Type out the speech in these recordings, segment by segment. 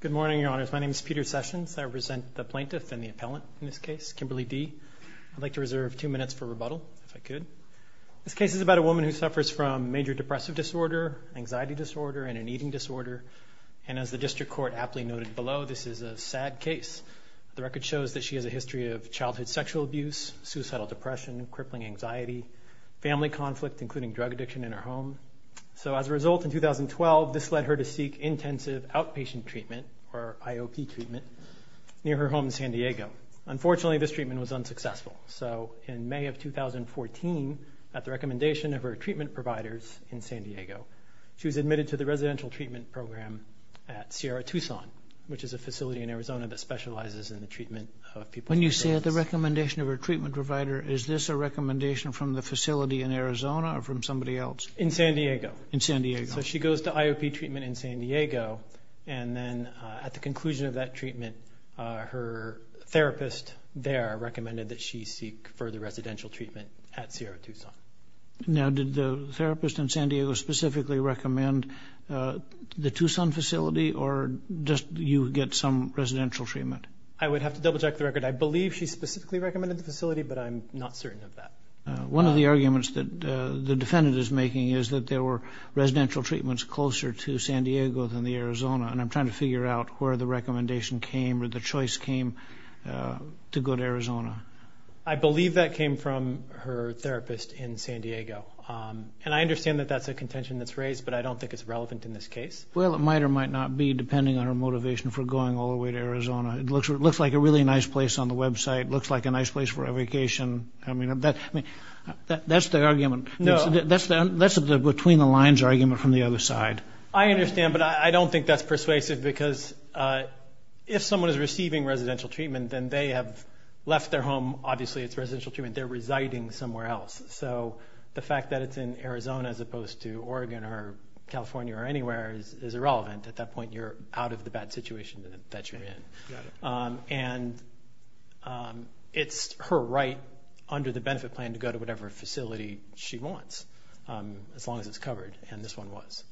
Good morning, Your Honors. My name is Peter Sessions. I represent the plaintiff and the appellant in this case, Kimberley D. I'd like to reserve two minutes for rebuttal, if I could. This case is about a woman who suffers from major depressive disorder, anxiety disorder, and an eating disorder. And as the district court aptly noted below, this is a sad case. The record shows that she has a history of childhood sexual abuse, suicidal depression, crippling anxiety, family conflict, including drug addiction in her home. So as a result, in 2012, this led her to seek intensive outpatient treatment, or IOP treatment, near her home in San Diego. Unfortunately, this treatment was unsuccessful. So in May of 2014, at the recommendation of her treatment providers in San Diego, she was admitted to the residential treatment program at Sierra Tucson, which is a facility in Arizona that specializes in the treatment of people with depression. When you say at the recommendation of her treatment provider, is this a recommendation from the facility in Arizona or from somebody else? In San Diego. In San Diego. So she goes to IOP treatment in San Diego, and then at the conclusion of that treatment, her therapist there recommended that she seek further residential treatment at Sierra Tucson. Now, did the therapist in San Diego specifically recommend the Tucson facility, or just you get some residential treatment? I would have to double-check the record. I believe she specifically recommended the facility, but I'm not certain of that. One of the arguments that the defendant is making is that there were residential treatments closer to San Diego than the Arizona, and I'm trying to figure out where the recommendation came or the choice came to go to Arizona. I believe that came from her therapist in San Diego, and I understand that that's a contention that's raised, but I don't think it's relevant in this case. Well, it might or might not be, depending on her motivation for going all the way to Arizona. It looks like a really nice place on the website. It looks like a nice place for a vacation. That's the argument. That's the between-the-lines argument from the other side. I understand, but I don't think that's persuasive because if someone is receiving residential treatment, then they have left their home. Obviously, it's residential treatment. They're residing somewhere else. So the fact that it's in Arizona as opposed to Oregon or California or anywhere is irrelevant. At that point, you're out of the bad situation that you're in. And it's her right under the benefit plan to go to whatever facility she wants as long as it's covered, and this one was.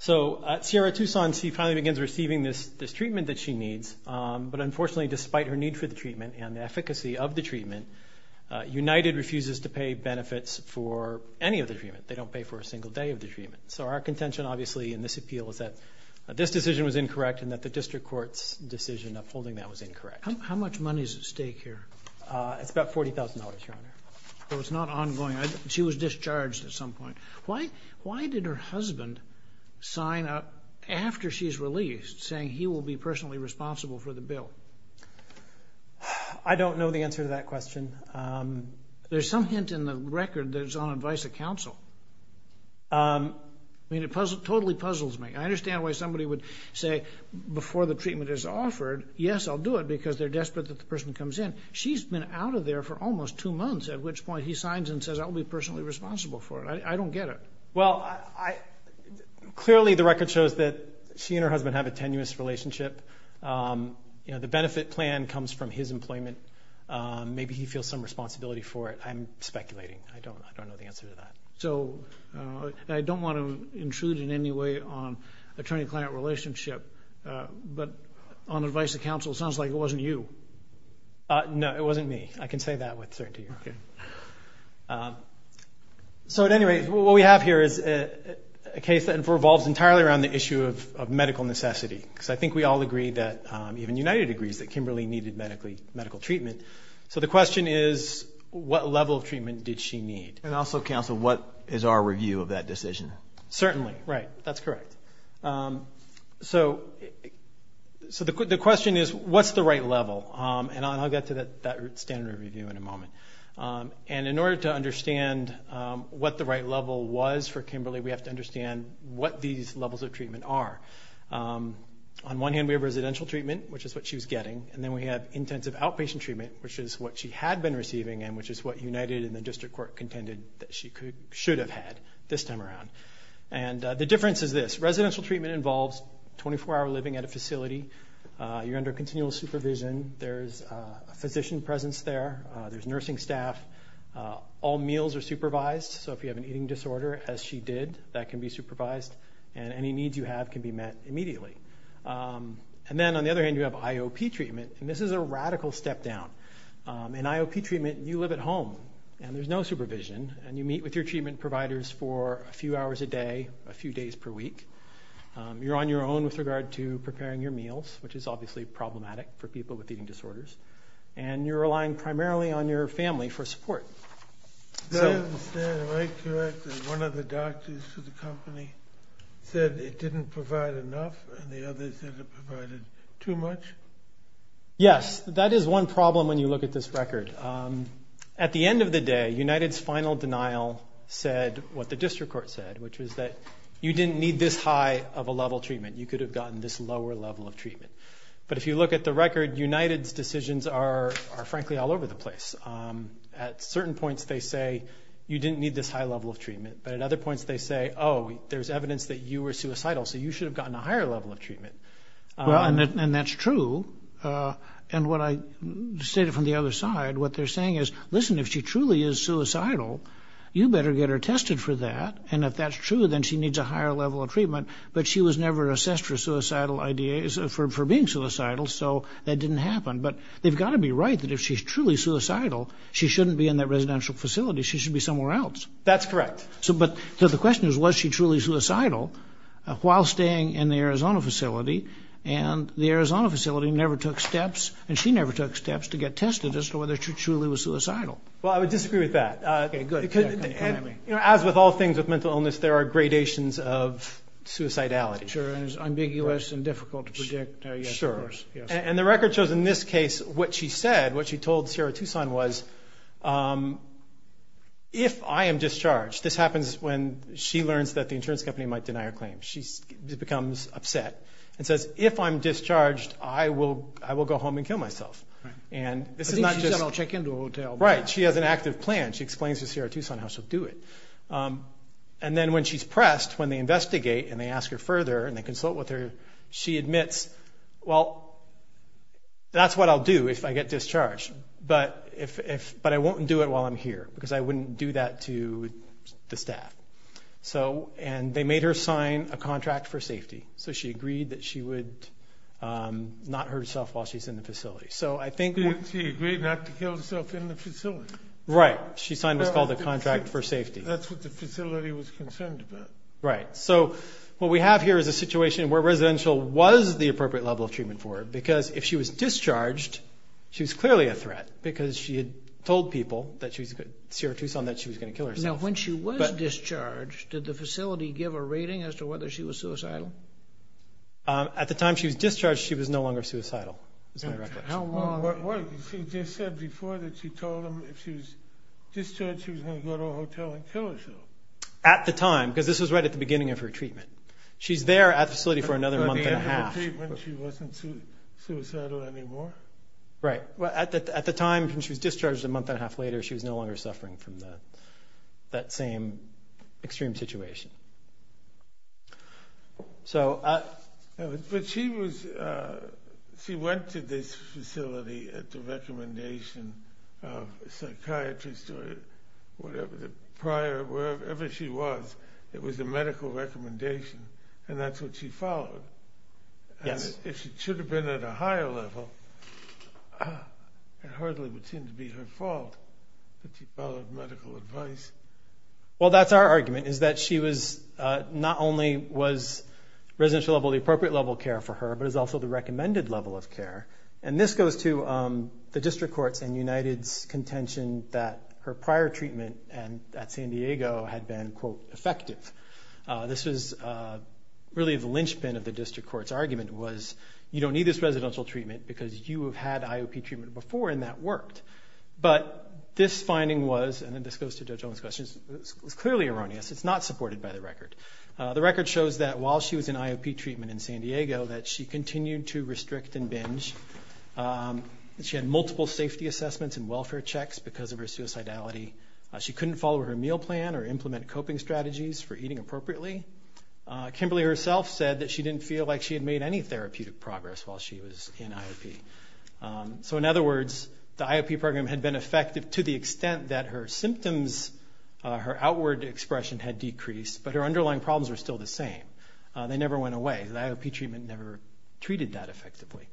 So Sierra-Tucson, she finally begins receiving this treatment that she needs, but unfortunately, despite her need for the treatment and the efficacy of the treatment, United refuses to pay benefits for any of the treatment. They don't pay for a single day of the treatment. So our contention, obviously, in this appeal is that this decision was incorrect and that the district court's decision upholding that was incorrect. How much money is at stake here? It's about $40,000, Your Honor. So it's not ongoing. She was discharged at some point. Why did her husband sign up after she's released saying he will be personally responsible for the bill? I don't know the answer to that question. There's some hint in the record that it's on advice of counsel. I mean, it totally puzzles me. I understand why somebody would say before the treatment is offered, yes, I'll do it, because they're desperate that the person comes in. She's been out of there for almost two months, at which point he signs and says I'll be personally responsible for it. I don't get it. Well, clearly the record shows that she and her husband have a tenuous relationship. The benefit plan comes from his employment. Maybe he feels some responsibility for it. I'm speculating. I don't know the answer to that. I don't want to intrude in any way on attorney-client relationship. But on advice of counsel, it sounds like it wasn't you. No, it wasn't me. I can say that with certainty, Your Honor. At any rate, what we have here is a case that revolves entirely around the issue of medical necessity. I think we all agree that, even United agrees, that Kimberly needed medical treatment. So the question is, what level of treatment did she need? And also, counsel, what is our review of that decision? Certainly, right. That's correct. So the question is, what's the right level? And I'll get to that standard review in a moment. And in order to understand what the right level was for Kimberly, we have to understand what these levels of treatment are. On one hand, we have residential treatment, which is what she was getting. And then we have intensive outpatient treatment, which is what she had been receiving and which is what United and the district court contended that she should have had this time around. And the difference is this. Residential treatment involves 24-hour living at a facility. You're under continual supervision. There's a physician presence there. There's nursing staff. All meals are supervised. So if you have an eating disorder, as she did, that can be supervised. And any needs you have can be met immediately. And then, on the other hand, you have IOP treatment. And this is a radical step down. In IOP treatment, you live at home, and there's no supervision, and you meet with your treatment providers for a few hours a day, a few days per week. You're on your own with regard to preparing your meals, which is obviously problematic for people with eating disorders. And you're relying primarily on your family for support. Is that right, correct, that one of the doctors for the company said it didn't provide enough and the other said it provided too much? Yes. That is one problem when you look at this record. At the end of the day, United's final denial said what the district court said, which was that you didn't need this high of a level of treatment. You could have gotten this lower level of treatment. But if you look at the record, United's decisions are, frankly, all over the place. At certain points they say you didn't need this high level of treatment, but at other points they say, oh, there's evidence that you were suicidal, so you should have gotten a higher level of treatment. And that's true. And what I stated from the other side, what they're saying is, listen, if she truly is suicidal, you better get her tested for that. And if that's true, then she needs a higher level of treatment. But she was never assessed for being suicidal, so that didn't happen. But they've got to be right that if she's truly suicidal, she shouldn't be in that residential facility. She should be somewhere else. That's correct. So the question is, was she truly suicidal while staying in the Arizona facility? And the Arizona facility never took steps, and she never took steps to get tested as to whether she truly was suicidal. Well, I would disagree with that. Okay, good. As with all things with mental illness, there are gradations of suicidality. Sure, and it's ambiguous and difficult to predict. Sure. And the record shows in this case what she said, what she told Sierra Tucson was, if I am discharged, this happens when she learns that the insurance company might deny her claim. She becomes upset and says, if I'm discharged, I will go home and kill myself. Right. I think she said I'll check into a hotel. Right. She has an active plan. She explains to Sierra Tucson how she'll do it. And then when she's pressed, when they investigate and they ask her further and they consult with her, she admits, well, that's what I'll do if I get discharged. But I won't do it while I'm here because I wouldn't do that to the staff. And they made her sign a contract for safety. So she agreed that she would not hurt herself while she's in the facility. She agreed not to kill herself in the facility. Right. She signed what's called a contract for safety. That's what the facility was concerned about. Right. So what we have here is a situation where residential was the appropriate level of treatment for her because if she was discharged, she was clearly a threat because she had told people, Sierra Tucson, that she was going to kill herself. Now, when she was discharged, did the facility give a rating as to whether she was suicidal? At the time she was discharged, she was no longer suicidal. She just said before that she told them if she was discharged, she was going to go to a hotel and kill herself. At the time, because this was right at the beginning of her treatment. She's there at the facility for another month and a half. After the treatment, she wasn't suicidal anymore? Right. At the time, when she was discharged a month and a half later, she was no longer suffering from that same extreme situation. But she went to this facility at the recommendation of a psychiatrist or whatever, wherever she was, it was a medical recommendation, and that's what she followed. If she should have been at a higher level, it hardly would seem to be her fault that she followed medical advice. Well, that's our argument is that she was not only was residential level the appropriate level of care for her, but it was also the recommended level of care. And this goes to the district courts and United's contention that her prior treatment at San Diego had been, quote, effective. This was really the linchpin of the district court's argument was, you don't need this residential treatment because you have had IOP treatment before and that worked. But this finding was, and this goes to Judge Owen's question, it was clearly erroneous. It's not supported by the record. The record shows that while she was in IOP treatment in San Diego that she continued to restrict and binge. She had multiple safety assessments and welfare checks because of her suicidality. She couldn't follow her meal plan or implement coping strategies for eating appropriately. Kimberly herself said that she didn't feel like she had made any therapeutic progress while she was in IOP. So in other words, the IOP program had been effective to the extent that her symptoms, her outward expression had decreased, but her underlying problems were still the same. They never went away. The IOP treatment never treated that effectively.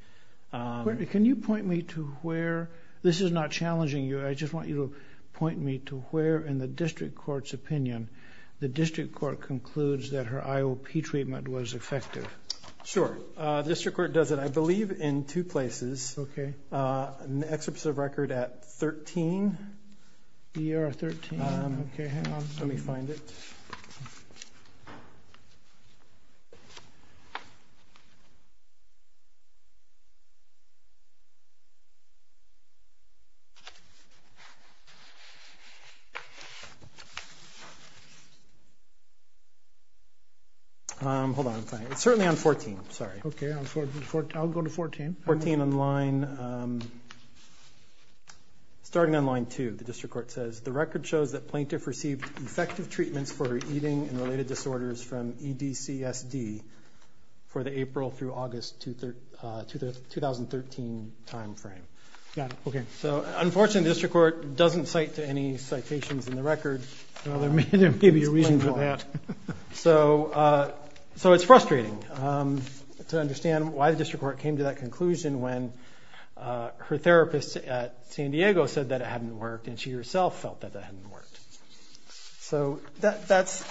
Can you point me to where, this is not challenging you, I just want you to point me to where in the district court's opinion the district court concludes that her IOP treatment was effective? Sure. The district court does it, I believe, in two places. Okay. Excerpts of record at 13. ER 13. Okay, hang on. Let me find it. Hold on. It's certainly on 14. Sorry. Okay. I'll go to 14. 14 on line, starting on line 2, the district court says, the record shows that Plaintiff received effective treatments for her eating and related disorders from EDCSD for the April through August 2013 time frame. Got it. Okay. So, unfortunately, the district court doesn't cite to any citations in the record. Well, there may be a reason for that. So it's frustrating to understand why the district court came to that conclusion when her therapist at San Diego said that it hadn't worked, and she herself felt that that hadn't worked. So that's,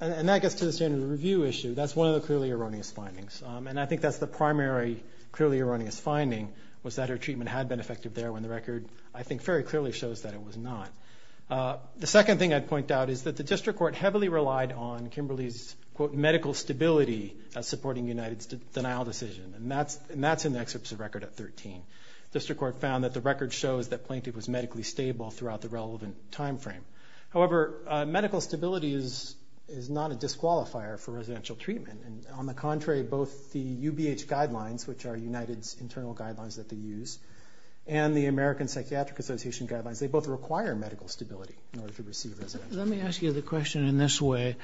and that gets to the standard review issue. That's one of the clearly erroneous findings, and I think that's the primary clearly erroneous finding was that her treatment had been effective there when the record, I think, very clearly shows that it was not. The second thing I'd point out is that the district court heavily relied on Kimberly's, quote, medical stability supporting United's denial decision, and that's in the excerpts of the record at 13. The district court found that the record shows that Plaintiff was medically stable throughout the relevant time frame. However, medical stability is not a disqualifier for residential treatment. On the contrary, both the UBH guidelines, which are United's internal guidelines that they use, and the American Psychiatric Association guidelines, they both require medical stability in order to receive residential. Let me ask you the question in this way.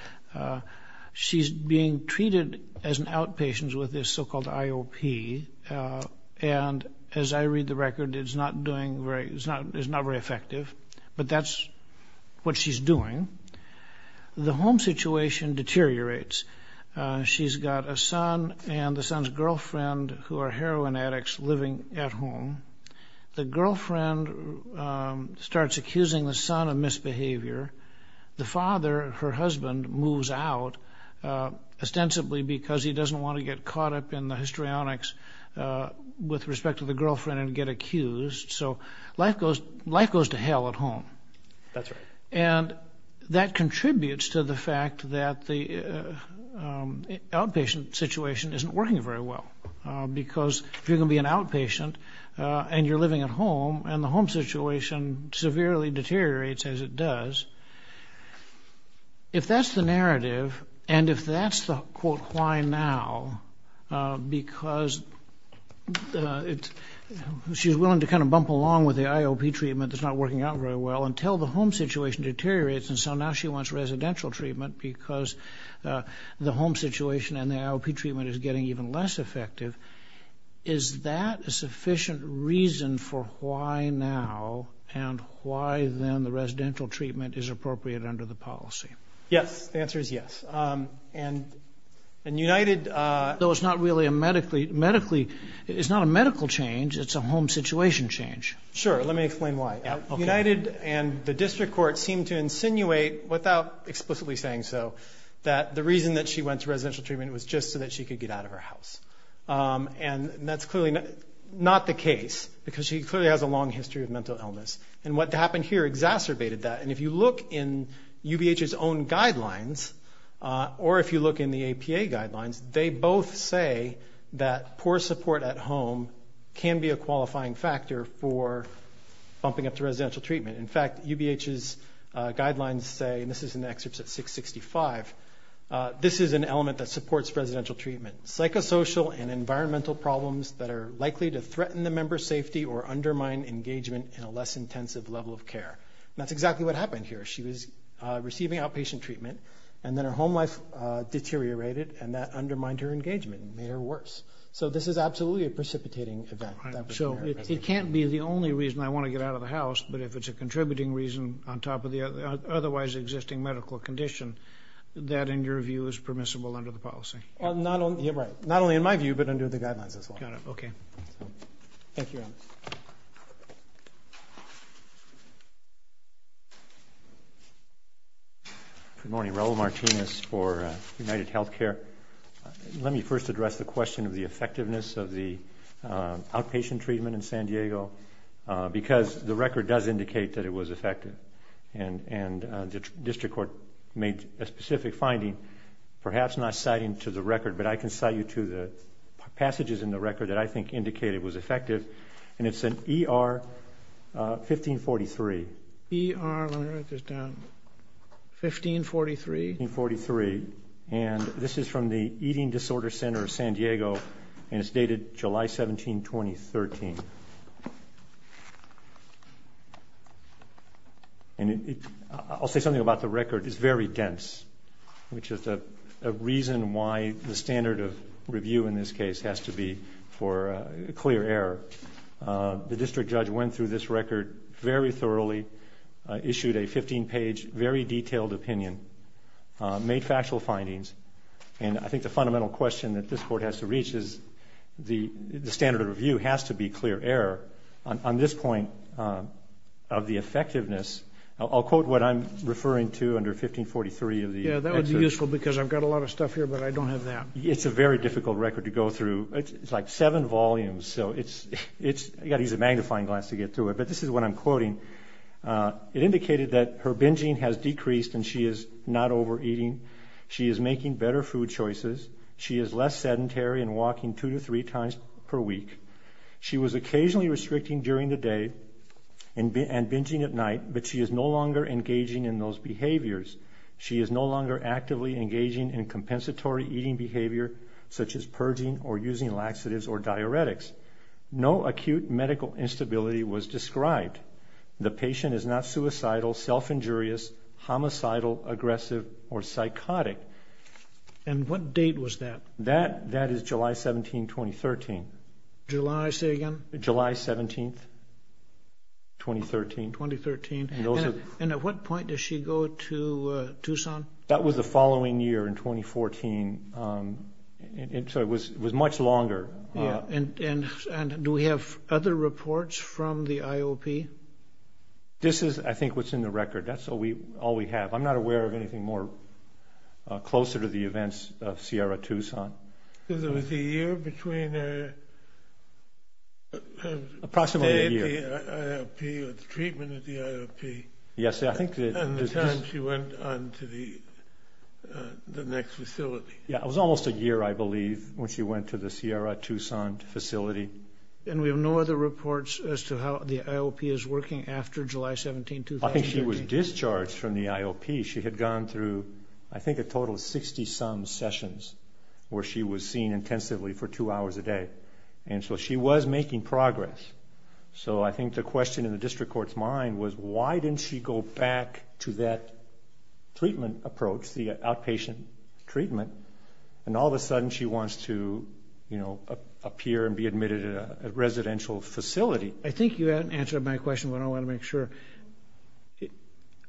She's being treated as an outpatient with this so-called IOP, and as I read the record, it's not doing very, it's not very effective, but that's what she's doing. The home situation deteriorates. She's got a son and the son's girlfriend who are heroin addicts living at home. The girlfriend starts accusing the son of misbehavior. The father, her husband, moves out ostensibly because he doesn't want to get caught up in the histrionics with respect to the girlfriend and get accused. So life goes to hell at home. That's right. And that contributes to the fact that the outpatient situation isn't working very well, because if you're going to be an outpatient and you're living at home and the home situation severely deteriorates, as it does, if that's the narrative and if that's the, quote, why now, because she's willing to kind of bump along with the IOP treatment that's not working out very well until the home situation deteriorates, and so now she wants residential treatment because the home situation and the IOP treatment is getting even less effective. Is that a sufficient reason for why now and why then the residential treatment is appropriate under the policy? Yes. The answer is yes. Though it's not really a medically, it's not a medical change. It's a home situation change. Sure. Let me explain why. United and the district court seem to insinuate, without explicitly saying so, that the reason that she went to residential treatment was just so that she could get out of her house. And that's clearly not the case, because she clearly has a long history of mental illness. And what happened here exacerbated that. And if you look in UBH's own guidelines or if you look in the APA guidelines, they both say that poor support at home can be a qualifying factor for bumping up to residential treatment. In fact, UBH's guidelines say, and this is in the excerpts at 665, this is an element that supports residential treatment, psychosocial and environmental problems that are likely to threaten the member's safety or undermine engagement in a less intensive level of care. That's exactly what happened here. She was receiving outpatient treatment, and then her home life deteriorated, and that undermined her engagement and made her worse. So this is absolutely a precipitating event. So it can't be the only reason I want to get out of the house, but if it's a contributing reason on top of the otherwise existing medical condition, that, in your view, is permissible under the policy? Right. Not only in my view, but under the guidelines as well. Got it. Okay. Thank you. Good morning. Raul Martinez for UnitedHealthcare. Let me first address the question of the effectiveness of the outpatient treatment in San Diego because the record does indicate that it was effective, and the district court made a specific finding, perhaps not citing to the record, but I can cite you to the passages in the record that I think indicate it was effective, and it's in ER 1543. ER, let me write this down, 1543? 1543. And this is from the Eating Disorder Center of San Diego, and it's dated July 17, 2013. And I'll say something about the record. which is a reason why the standard of review in this case has to be for clear error. The district judge went through this record very thoroughly, issued a 15-page, very detailed opinion, made factual findings, and I think the fundamental question that this court has to reach is the standard of review has to be clear error. On this point of the effectiveness, I'll quote what I'm referring to under 1543. Yeah, that would be useful because I've got a lot of stuff here, but I don't have that. It's a very difficult record to go through. It's like seven volumes, so you've got to use a magnifying glass to get through it. But this is what I'm quoting. It indicated that her binging has decreased and she is not overeating. She is making better food choices. She is less sedentary and walking two to three times per week. She was occasionally restricting during the day and binging at night, but she is no longer engaging in those behaviors. She is no longer actively engaging in compensatory eating behavior such as purging or using laxatives or diuretics. No acute medical instability was described. The patient is not suicidal, self-injurious, homicidal, aggressive, or psychotic. And what date was that? That is July 17, 2013. July, say again? July 17, 2013. 2013. And at what point does she go to Tucson? That was the following year in 2014, so it was much longer. And do we have other reports from the IOP? This is, I think, what's in the record. That's all we have. I'm not aware of anything more closer to the events of Sierra Tucson. It was a year between her treatment at the IOP and the time she went on to the next facility. Yeah, it was almost a year, I believe, when she went to the Sierra Tucson facility. And we have no other reports as to how the IOP is working after July 17, 2013? I don't think she was discharged from the IOP. She had gone through, I think, a total of 60-some sessions where she was seen intensively for two hours a day. And so she was making progress. So I think the question in the district court's mind was, why didn't she go back to that treatment approach, the outpatient treatment, and all of a sudden she wants to appear and be admitted at a residential facility? I think you answered my question, but I want to make sure.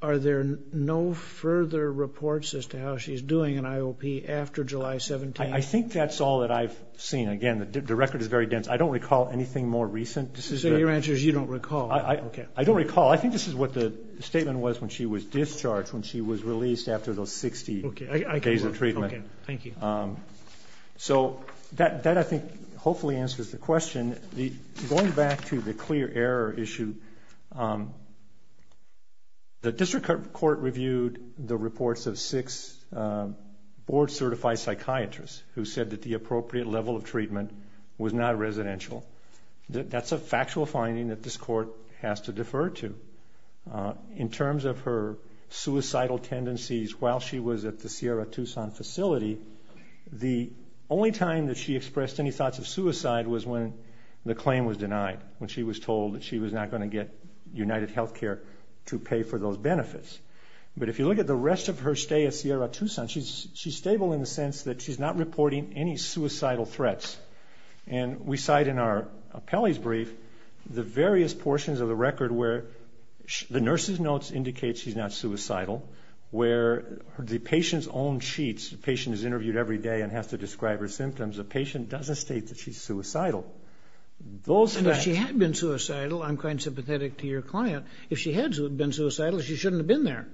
Are there no further reports as to how she's doing in IOP after July 17? I think that's all that I've seen. Again, the record is very dense. I don't recall anything more recent. So your answer is you don't recall. I don't recall. I think this is what the statement was when she was discharged, when she was released after those 60 days of treatment. Okay, thank you. So that, I think, hopefully answers the question. Going back to the clear error issue, the district court reviewed the reports of six board-certified psychiatrists who said that the appropriate level of treatment was not residential. That's a factual finding that this court has to defer to. In terms of her suicidal tendencies while she was at the Sierra Tucson facility, the only time that she expressed any thoughts of suicide was when the claim was denied, when she was told that she was not going to get UnitedHealthcare to pay for those benefits. But if you look at the rest of her stay at Sierra Tucson, she's stable in the sense that she's not reporting any suicidal threats. And we cite in our appellee's brief the various portions of the record where the nurse's notes indicate she's not suicidal, where the patient's own sheets, the patient is interviewed every day and has to describe her symptoms, the patient doesn't state that she's suicidal. And if she had been suicidal, I'm quite sympathetic to your client, if she had been suicidal, she shouldn't have been there.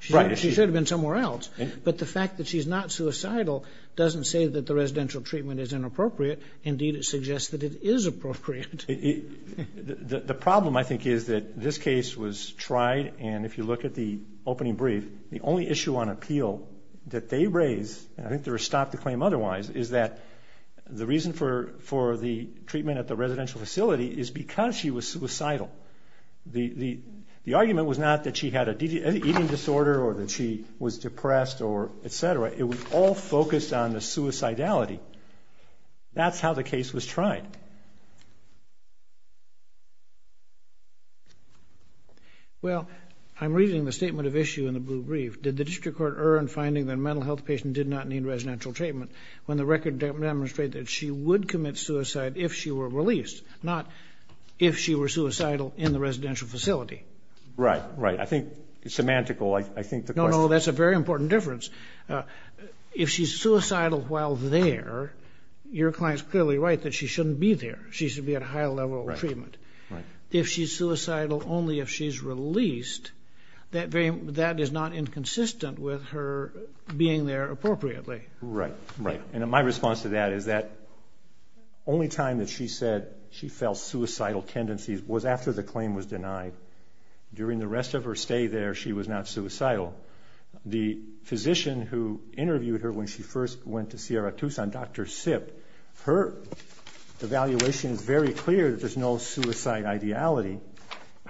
She should have been somewhere else. But the fact that she's not suicidal doesn't say that the residential treatment is inappropriate. Indeed, it suggests that it is appropriate. The problem, I think, is that this case was tried, and if you look at the opening brief, the only issue on appeal that they raise, and I think they were stopped to claim otherwise, is that the reason for the treatment at the residential facility is because she was suicidal. The argument was not that she had an eating disorder or that she was depressed or et cetera. It was all focused on the suicidality. That's how the case was tried. All right. Well, I'm reading the statement of issue in the blue brief. Did the district court earn finding that a mental health patient did not need residential treatment when the record demonstrated that she would commit suicide if she were released, not if she were suicidal in the residential facility? Right, right. I think it's semantical. No, no, that's a very important difference. If she's suicidal while there, your client's clearly right that she shouldn't be there. She should be at a higher level of treatment. If she's suicidal only if she's released, that is not inconsistent with her being there appropriately. Right, right. And my response to that is that only time that she said she felt suicidal tendencies was after the claim was denied. During the rest of her stay there, she was not suicidal. The physician who interviewed her when she first went to Sierra Tucson, Dr. Sip, her evaluation is very clear that there's no suicide ideality,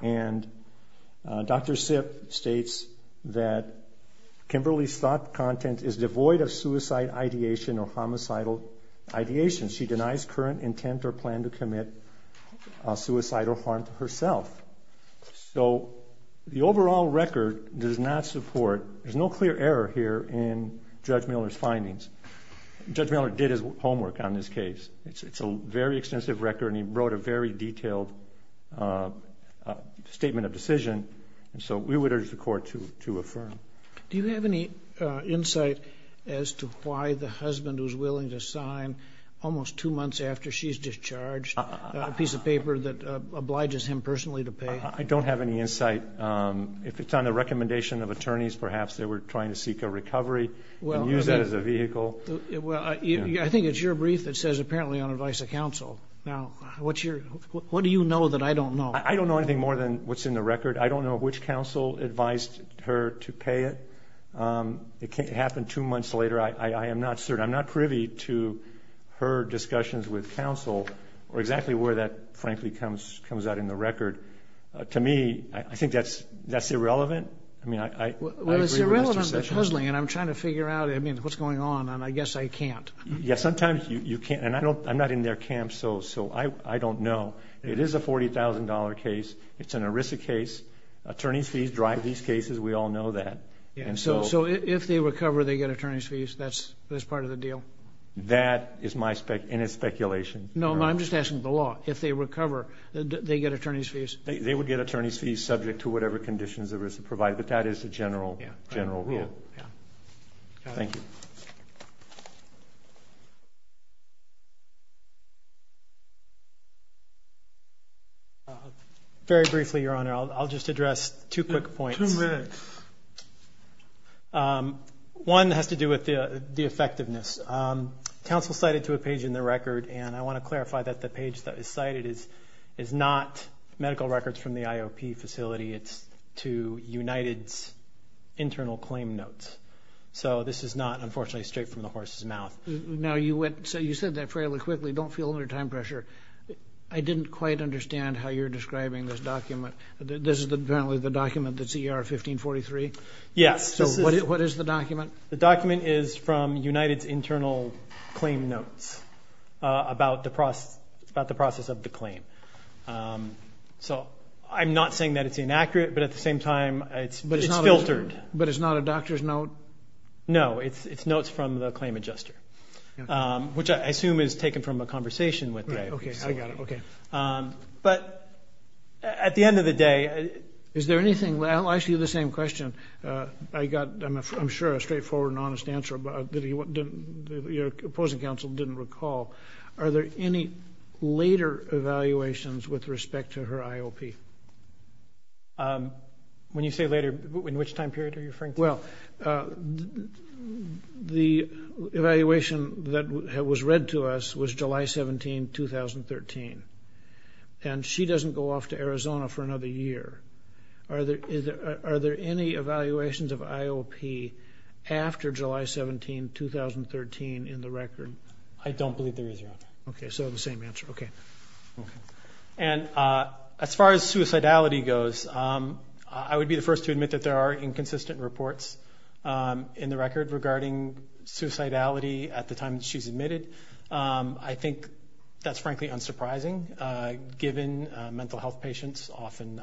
and Dr. Sip states that Kimberly's thought content is devoid of suicide ideation or homicidal ideation. She denies current intent or plan to commit suicidal harm to herself. So the overall record does not support, there's no clear error here in Judge Miller's findings. Judge Miller did his homework on this case. It's a very extensive record, and he wrote a very detailed statement of decision, and so we would urge the Court to affirm. Do you have any insight as to why the husband who's willing to sign almost two months after she's discharged a piece of paper that obliges him personally to pay? I don't have any insight. If it's on the recommendation of attorneys, perhaps they were trying to seek a recovery and use that as a vehicle. I think it's your brief that says apparently on advice of counsel. Now, what do you know that I don't know? I don't know anything more than what's in the record. I don't know which counsel advised her to pay it. It happened two months later. I am not certain. I'm not privy to her discussions with counsel or exactly where that, frankly, comes out in the record. To me, I think that's irrelevant. I mean, I agree with Mr. Sessions. Well, it's irrelevant, but puzzling, and I'm trying to figure out, I mean, what's going on, and I guess I can't. Yeah, sometimes you can't, and I'm not in their camp, so I don't know. It is a $40,000 case. It's an ERISA case. Attorneys' fees drive these cases. We all know that. So if they recover, they get attorneys' fees? That's part of the deal? That is my speculation. No, I'm just asking the law. If they recover, they get attorneys' fees? They would get attorneys' fees subject to whatever conditions ERISA provides, but that is the general rule. Thank you. Very briefly, Your Honor, I'll just address two quick points. Two minutes. One has to do with the effectiveness. Counsel cited to a page in the record, and I want to clarify that the page that is cited is not medical records from the IOP facility. It's to United's internal claim notes. So this is not, unfortunately, straight from the horse's mouth. Now, you said that fairly quickly. Don't feel under time pressure. I didn't quite understand how you're describing this document. This is apparently the document that's ER 1543? Yes. So what is the document? The document is from United's internal claim notes about the process of the claim. So I'm not saying that it's inaccurate, but at the same time, it's filtered. But it's not a doctor's note? No, it's notes from the claim adjuster, which I assume is taken from a conversation with the IOP facility. Okay, I got it. Okay. But at the end of the day, is there anything? I'll ask you the same question. I got, I'm sure, a straightforward and honest answer that your opposing counsel didn't recall. Are there any later evaluations with respect to her IOP? When you say later, in which time period are you referring to? Well, the evaluation that was read to us was July 17, 2013. And she doesn't go off to Arizona for another year. Are there any evaluations of IOP after July 17, 2013 in the record? I don't believe there is, Your Honor. Okay, so the same answer. Okay. And as far as suicidality goes, I would be the first to admit that there are inconsistent reports in the record regarding suicidality at the time she's admitted. I think that's frankly unsurprising, given mental health patients often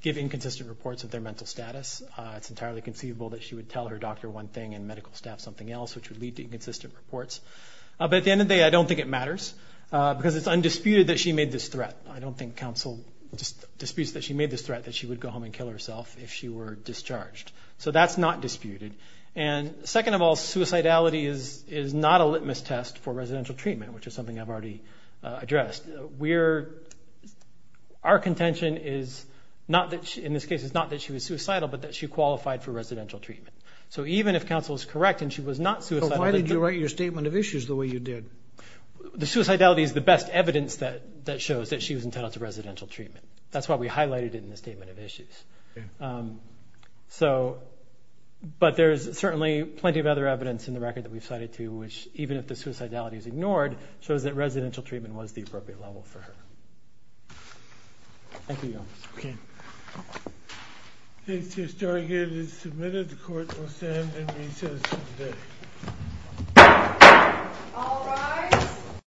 give inconsistent reports of their mental status. It's entirely conceivable that she would tell her doctor one thing and medical staff something else, which would lead to inconsistent reports. But at the end of the day, I don't think it matters because it's undisputed that she made this threat. I don't think counsel disputes that she made this threat, that she would go home and kill herself if she were discharged. So that's not disputed. And second of all, suicidality is not a litmus test for residential treatment, which is something I've already addressed. We're, our contention is not that, in this case, it's not that she was suicidal, but that she qualified for residential treatment. So even if counsel is correct and she was not suicidal. So why did you write your statement of issues the way you did? The suicidality is the best evidence that shows that she was entitled to residential treatment. That's why we highlighted it in the statement of issues. So, but there's certainly plenty of other evidence in the record that we've cited too, which even if the suicidality is ignored, shows that residential treatment was the appropriate level for her. Thank you, Your Honor. Okay. The case is targeted and submitted. The court will stand in recess today. All rise.